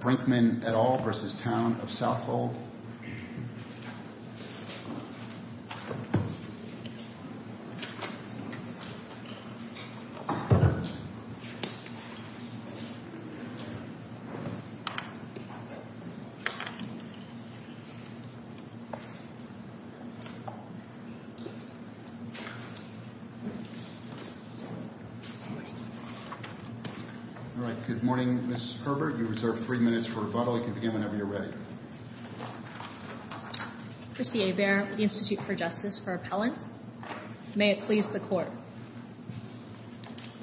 Brinkmann et al. Town of Southhold. All right. Good morning, Ms. Herbert, you reserve three minutes for rebuttal. You can begin whenever you're ready. Chrissy Hebert, the Institute for Justice for Appellants. May it please the court.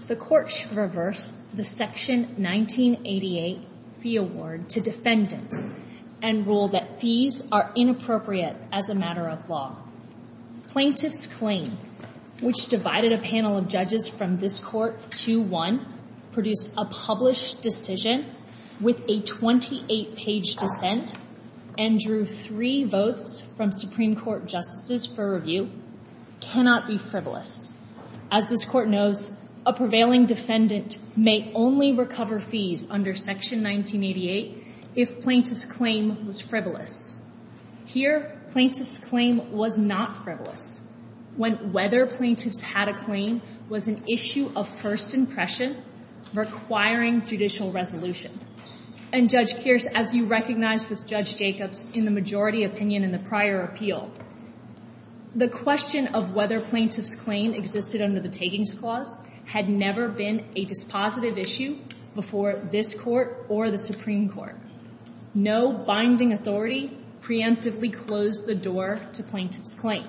The court should reverse the section 1988 fee award to defendants and rule that fees are inappropriate as a matter of law. Plaintiff's claim, which divided a panel of judges from this court to one, produce a published decision with a 28 page dissent and drew three votes from Supreme Court justices for review, cannot be frivolous. As this court knows, a prevailing defendant may only recover fees under section 1988 if plaintiff's claim was frivolous. Here, plaintiff's claim was not frivolous. When whether plaintiff's had a claim was an issue of first impression requiring judicial resolution. And Judge Kearse, as you recognize with Judge Jacobs in the majority opinion in the prior appeal, the question of whether plaintiff's claim existed under the takings clause had never been a dispositive issue before this court or the Supreme Court. No binding authority preemptively closed the door to plaintiff's claim.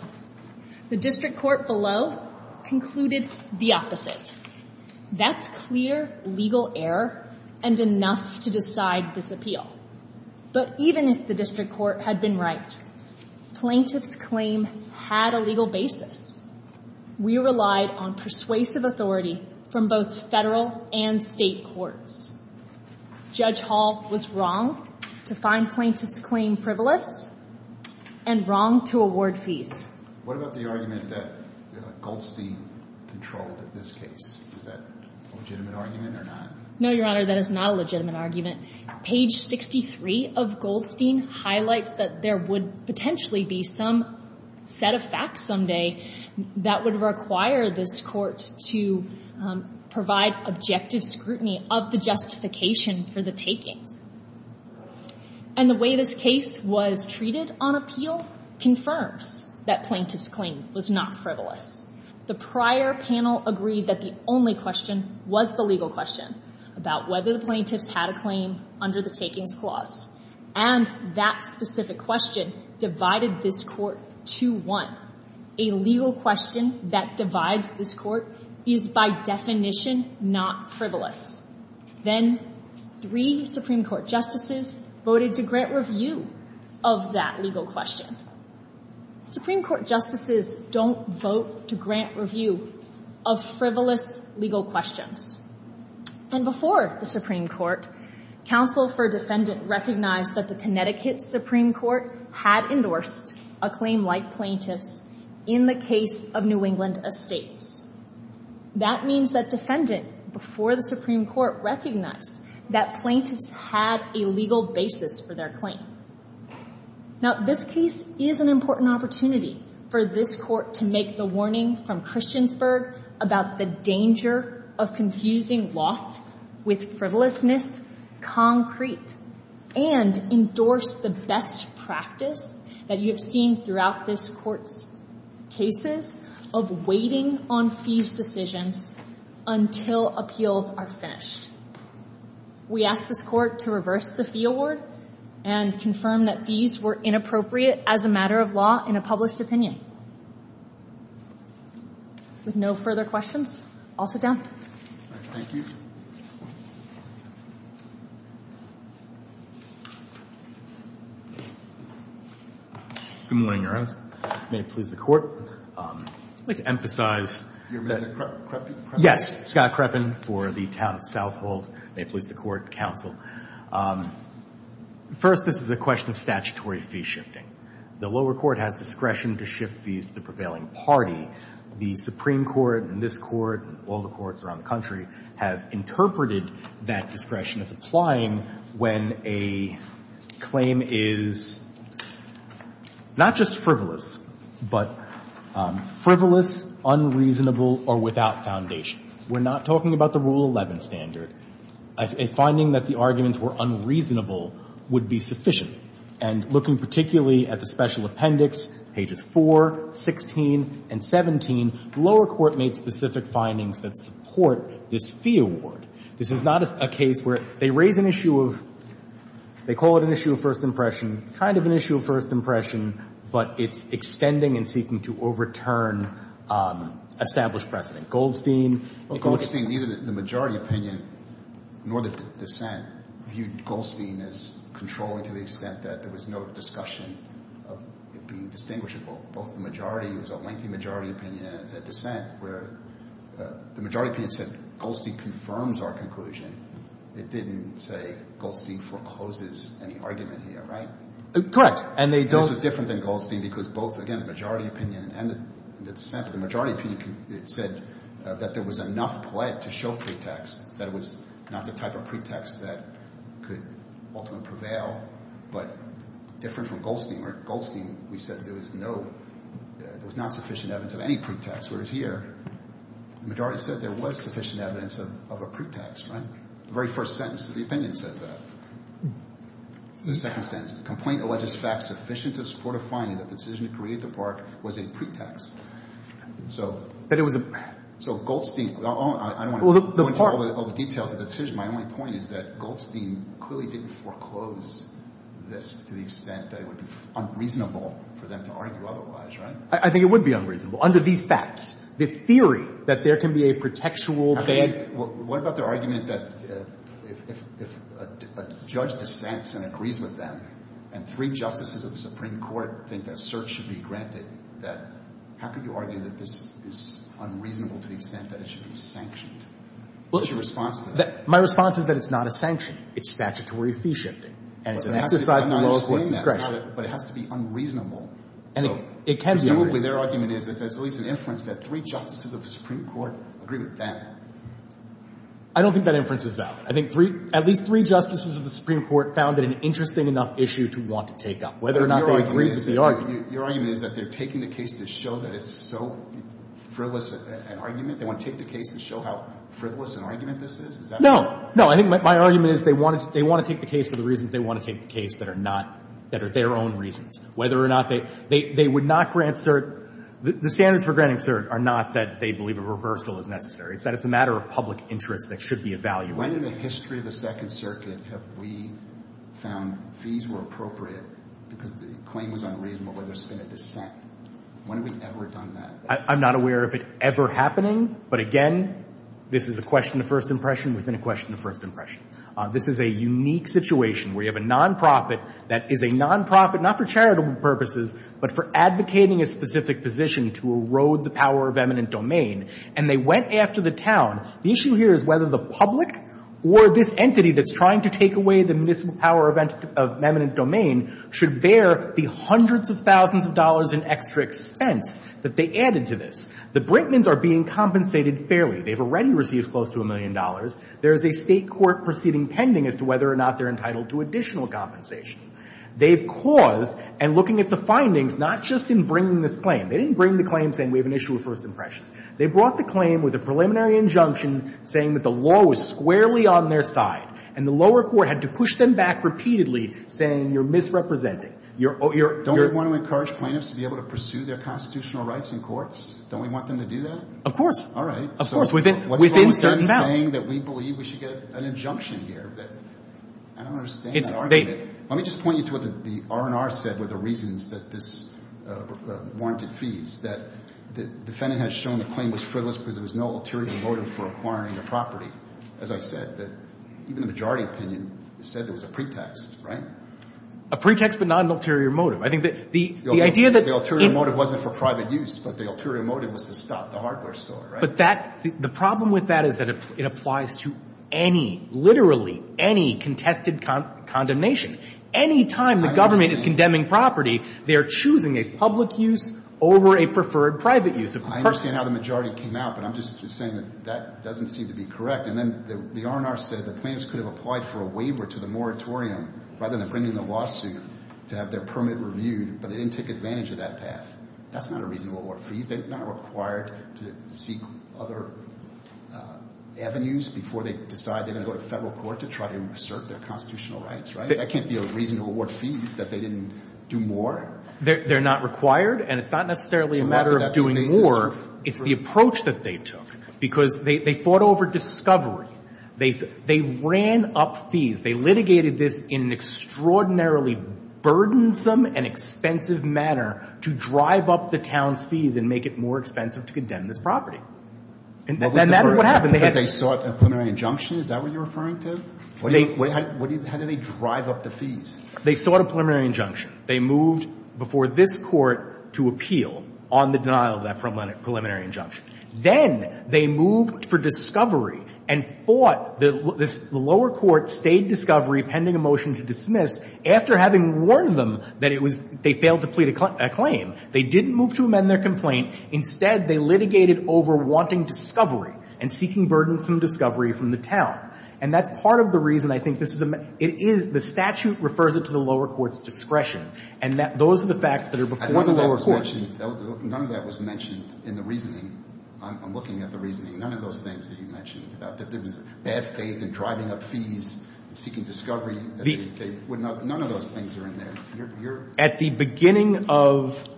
The district court below concluded the opposite. That's clear legal error and enough to decide this appeal. But even if the district court had been right, plaintiff's claim had a legal basis. We relied on persuasive authority from both federal and state courts. Judge Hall was wrong to find plaintiff's claim frivolous and wrong to award fees. What about the argument that Goldstein controlled in this case? Is that a legitimate argument or not? No, Your Honor, that is not a legitimate argument. Page 63 of Goldstein highlights that there would potentially be some set of facts someday that would require this court to provide objective scrutiny of the justification for the takings. And the way this case was treated on appeal confirms that plaintiff's claim was not frivolous. The prior panel agreed that the only question was the legal question about whether the plaintiffs had a claim under the takings clause and that specific question divided this court to one. A legal question that divides this court is by definition not frivolous. Then three Supreme Court justices voted to grant review of that legal question. Supreme Court justices don't vote to grant review of frivolous legal questions. And before the Supreme Court, counsel for defendant recognized that the Connecticut Supreme Court had endorsed a claim like plaintiff's in the case of New England Estates. That means that defendant before the Supreme Court recognized that plaintiffs had a legal basis for their claim. Now, this case is an important opportunity for this court to make the warning from Christiansburg about the danger of confusing loss with frivolousness, concrete, and endorse the best practice that you have seen throughout this court's cases of waiting on fees decisions until appeals are finished. We ask this court to reverse the fee award and confirm that fees were inappropriate as a matter of law in a published opinion. With no further questions, I'll sit down. Good morning, Your Honors. May it please the court. I'd like to emphasize that. You're Mr. Creppen? Yes. Scott Creppen for the town of South Hold. May it please the court, counsel. First, this is a question of statutory fee shifting. The lower court has discretion to shift fees to the prevailing party. The Supreme Court and this court and all the courts around the country have interpreted that discretion as applying when a claim is not just frivolous, but frivolous. Frivolous, unreasonable, or without foundation. We're not talking about the Rule 11 standard. A finding that the arguments were unreasonable would be sufficient. And looking particularly at the special appendix, pages 4, 16, and 17, the lower court made specific findings that support this fee award. This is not a case where they raise an issue of, they call it an issue of first impression, it's kind of an issue of first impression, but it's extending and seeking to overturn established precedent. Well, Goldstein, neither the majority opinion nor the dissent viewed Goldstein as controlling to the extent that there was no discussion of it being distinguishable. Both the majority, it was a lengthy majority opinion and a dissent where the majority opinion said Goldstein confirms our conclusion. It didn't say Goldstein forecloses any argument here, right? Correct. And they don't. Goldstein was different than Goldstein because both, again, the majority opinion and the dissent, but the majority opinion said that there was enough play to show pretext, that it was not the type of pretext that could ultimately prevail, but different from Goldstein, where Goldstein, we said there was no, there was not sufficient evidence of any pretext, whereas here, the majority said there was sufficient evidence of a pretext, right? The very first sentence of the opinion said that. The second sentence, the complaint alleges facts sufficient to support a finding that the decision to create the park was a pretext. So, so Goldstein, I don't want to go into all the details of the decision. My only point is that Goldstein clearly didn't foreclose this to the extent that it would be unreasonable for them to argue otherwise, right? I think it would be unreasonable. Under these facts, the theory that there can be a protectual. What about their argument that if a judge dissents and agrees with them, and three justices of the Supreme Court think that search should be granted, that how could you argue that this is unreasonable to the extent that it should be sanctioned? What's your response to that? My response is that it's not a sanction. It's statutory fee shifting, and it's an exercise of the lowest court's discretion. But it has to be unreasonable. And it can be unreasonable. Presumably their argument is that there's at least an inference that three justices of the Supreme Court agree with them. I don't think that inference is valid. I think three, at least three justices of the Supreme Court found it an interesting enough issue to want to take up, whether or not they agree with the argument. Your argument is that they're taking the case to show that it's so frivolous an argument? They want to take the case to show how frivolous an argument this is? Is that right? No. No. I think my argument is they want to take the case for the reasons they want to take the case that are not, that are their own reasons, whether or not they, they would not grant cert, the standards for granting cert are not that they believe a reversal is necessary. It's that it's a matter of public interest that should be evaluated. When in the history of the Second Circuit have we found fees were appropriate because the claim was unreasonable, where there's been a dissent? When have we ever done that? I'm not aware of it ever happening, but again, this is a question of first impression within a question of first impression. This is a unique situation where you have a nonprofit that is a nonprofit, not for charitable purposes, but for advocating a specific position to erode the power of eminent domain. And they went after the town. The issue here is whether the public or this entity that's trying to take away the municipal power of eminent domain should bear the hundreds of thousands of dollars in extra expense that they added to this. The Brinkmans are being compensated fairly. They've already received close to a million dollars. There is a state court proceeding pending as to whether or not they're entitled to additional compensation. They've caused, and looking at the findings, not just in bringing this claim. They didn't bring the claim saying we have an issue of first impression. They brought the claim with a preliminary injunction saying that the law was squarely on their side, and the lower court had to push them back repeatedly saying you're misrepresenting. You're, you're, you're Don't we want to encourage plaintiffs to be able to pursue their constitutional rights in courts? Don't we want them to do that? Of course. All right. Of course. Within, within certain bounds. What's wrong with them saying that we believe we should get an injunction here? That, I don't understand that argument. Let me just point you to what the R&R said were the reasons that this warranted fees, that the defendant had shown the claim was frivolous because there was no ulterior motive for acquiring the property. As I said, that even the majority opinion said there was a pretext, right? A pretext, but not an ulterior motive. I think that the, the idea that. The ulterior motive wasn't for private use, but the ulterior motive was to stop the hardware store, right? But that, the problem with that is that it applies to any, literally any contested condemnation. Anytime the government is condemning property, they're choosing a public use over a preferred private use. I understand how the majority came out, but I'm just saying that that doesn't seem to be correct. And then the R&R said the plaintiffs could have applied for a waiver to the moratorium rather than bringing the lawsuit to have their permit reviewed, but they didn't take advantage of that path. That's not a reasonable warrant for these. They're not required to seek other avenues before they decide they're going to go to constitutional rights, right? That can't be a reason to award fees that they didn't do more. They're not required, and it's not necessarily a matter of doing more. It's the approach that they took, because they, they fought over discovery. They, they ran up fees. They litigated this in an extraordinarily burdensome and expensive manner to drive up the town's fees and make it more expensive to condemn this property. And that's what happened. They sought a preliminary injunction. Is that what you're referring to? What do you, how do they drive up the fees? They sought a preliminary injunction. They moved before this Court to appeal on the denial of that preliminary injunction. Then they moved for discovery and fought. The lower court stayed discovery pending a motion to dismiss after having warned them that it was, they failed to plead a claim. They didn't move to amend their complaint. Instead, they litigated over wanting discovery and seeking burdensome discovery from the town. And that's part of the reason I think this is a, it is, the statute refers it to the lower court's discretion. And that, those are the facts that are before the lower court. None of that was mentioned in the reasoning. I'm looking at the reasoning. None of those things that you mentioned about that there was bad faith in driving up fees, seeking discovery. None of those things are in there. You're, you're. At the beginning of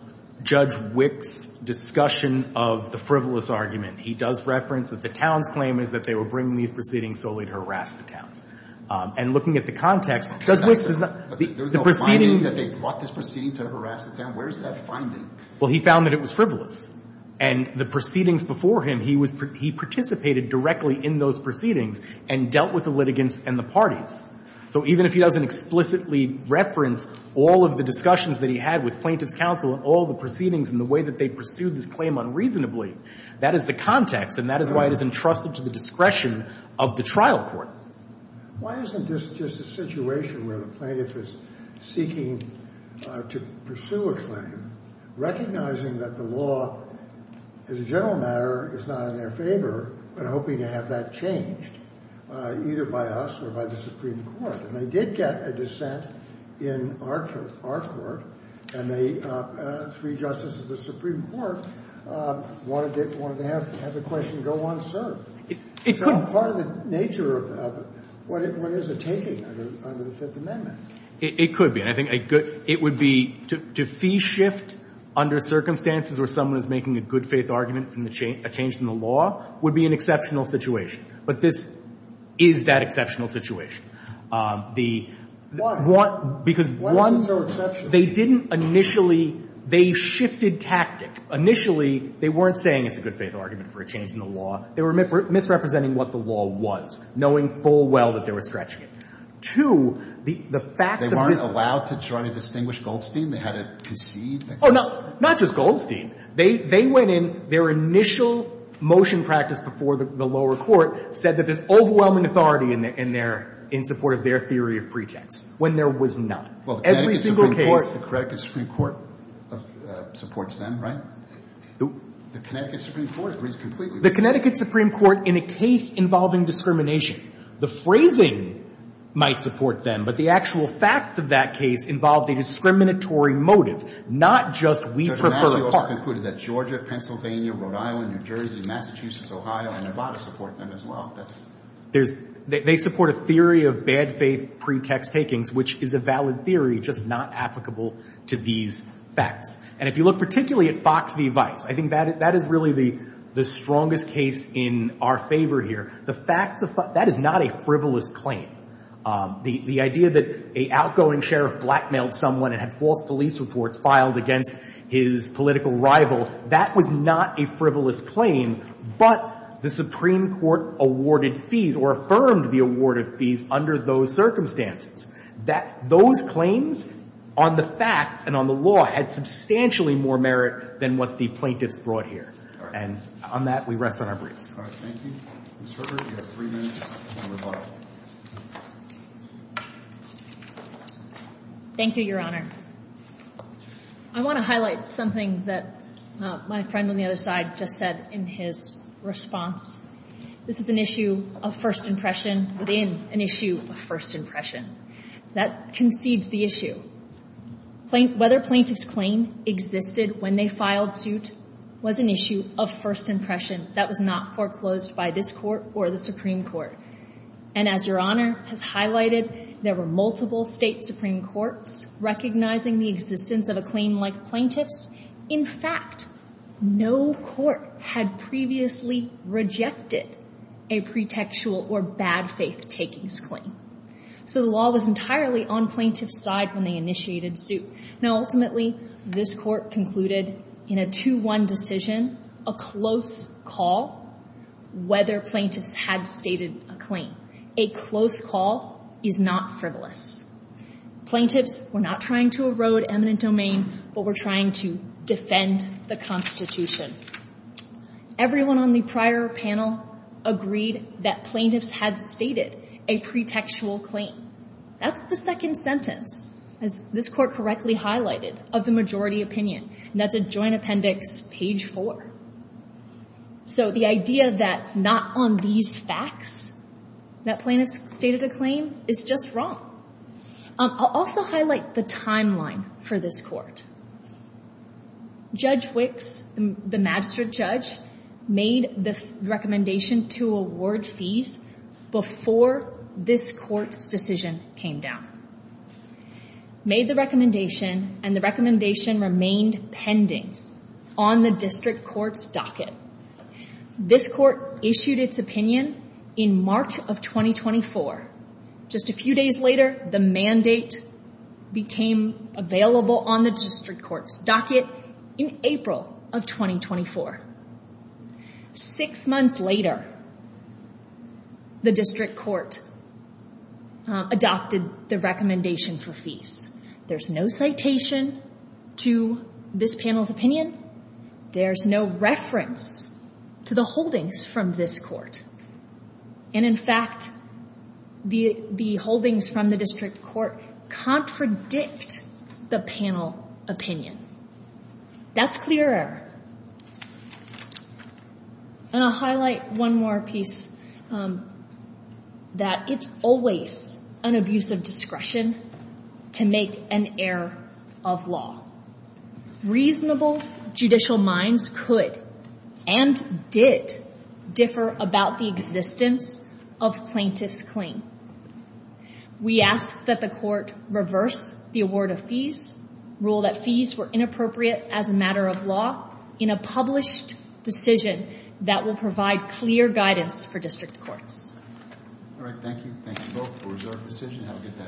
Judge Wick's discussion of the frivolous argument, he does reference that the town's claim is that they were bringing these proceedings solely to harass the town. And looking at the context, Judge Wick's is not. There's no finding that they brought this proceeding to harass the town? Where is that finding? Well, he found that it was frivolous. And the proceedings before him, he was, he participated directly in those proceedings and dealt with the litigants and the parties. So even if he doesn't explicitly reference all of the discussions that he had with plaintiffs' counsel and all the proceedings and the way that they pursued this claim unreasonably, that is the context. And that is why it is entrusted to the discretion of the trial court. Why isn't this just a situation where the plaintiff is seeking to pursue a claim, recognizing that the law, as a general matter, is not in their favor, but hoping to have that changed either by us or by the Supreme Court? And they did get a dissent in our, our court, and they, three justices of the Supreme Court wanted it, wanted to have the question go unsearched. It's all part of the nature of what is it taking under the Fifth Amendment? It could be. And I think a good, it would be to fee shift under circumstances where someone is making a good faith argument from the change, a change in the law would be an exceptional situation. But this is that exceptional situation. The, because one, they didn't initially, they shifted tactic. Initially, they weren't saying it's a good faith argument for a change in the law. They were misrepresenting what the law was, knowing full well that they were scratching it. Two, the, the facts of this. They weren't allowed to try to distinguish Goldstein? They had it conceived that Goldstein. Oh, no, not just Goldstein. They, they went in, their initial motion practice before the lower court said that there's overwhelming authority in their, in support of their theory of pretext, when there was not. Every single case. The Connecticut Supreme Court supports them, right? The Connecticut Supreme Court agrees completely. The Connecticut Supreme Court in a case involving discrimination. The phrasing might support them, but the actual facts of that case involved a discriminatory motive, not just we prefer. Judge O'Massey also concluded that Georgia, Pennsylvania, Rhode Island, New Jersey, Massachusetts, Ohio, and Nevada support them as well. There's, they support a theory of bad faith pretext takings, which is a valid theory, just not applicable to these facts. And if you look particularly at Fox v. Vice, I think that, that is really the, the strongest case in our favor here. The facts of, that is not a frivolous claim. The, the idea that a outgoing sheriff blackmailed someone and had false police reports filed against his political rival, that was not a frivolous claim, but the Supreme Court awarded fees or affirmed the awarded fees under those circumstances. That, those claims on the facts and on the law had substantially more merit than what the plaintiffs brought here. And on that, we rest on our briefs. Thank you. Ms. Herbert, you have three minutes on the rebuttal. Thank you, Your Honor. I want to highlight something that my friend on the other side just said in his response. This is an issue of first impression within an issue of first impression. That concedes the issue. Whether plaintiff's claim existed when they filed suit was an issue of first impression. That was not foreclosed by this court or the Supreme Court. And as Your Honor has highlighted, there were multiple state Supreme Courts recognizing the existence of a claim like plaintiff's. In fact, no court had previously rejected a pretextual or bad faith takings claim. So the law was entirely on plaintiff's side when they initiated suit. Now, ultimately, this court concluded in a 2-1 decision, a close call, whether plaintiffs had stated a claim. A close call is not frivolous. Plaintiffs were not trying to erode eminent domain, but we're trying to defend the Constitution. Everyone on the prior panel agreed that plaintiffs had stated a pretextual claim. That's the second sentence, as this court correctly highlighted, of the majority opinion. And that's at Joint Appendix, page four. So the idea that not on these facts that plaintiffs stated a claim is just wrong. I'll also highlight the timeline for this court. Judge Wicks, the magistrate judge, made the recommendation to award fees before this court's decision came down. Made the recommendation, and the recommendation remained pending on the district court's docket. This court issued its opinion in March of 2024. Just a few days later, the mandate became available on the district court's docket in April of 2024. Six months later, the district court adopted the recommendation for fees. There's no citation to this panel's opinion. There's no reference to the holdings from this court. And in fact, the holdings from the district court contradict the panel opinion. That's clear error. And I'll highlight one more piece, that it's always an abuse of discretion to make an error of law. Reasonable judicial minds could, and did, differ about the existence of plaintiff's claim. We ask that the court reverse the award of fees, rule that fees were inappropriate as a matter of law, in a published decision that will provide clear guidance for district courts. All right, thank you. Thank you both for your decision. Have a good day.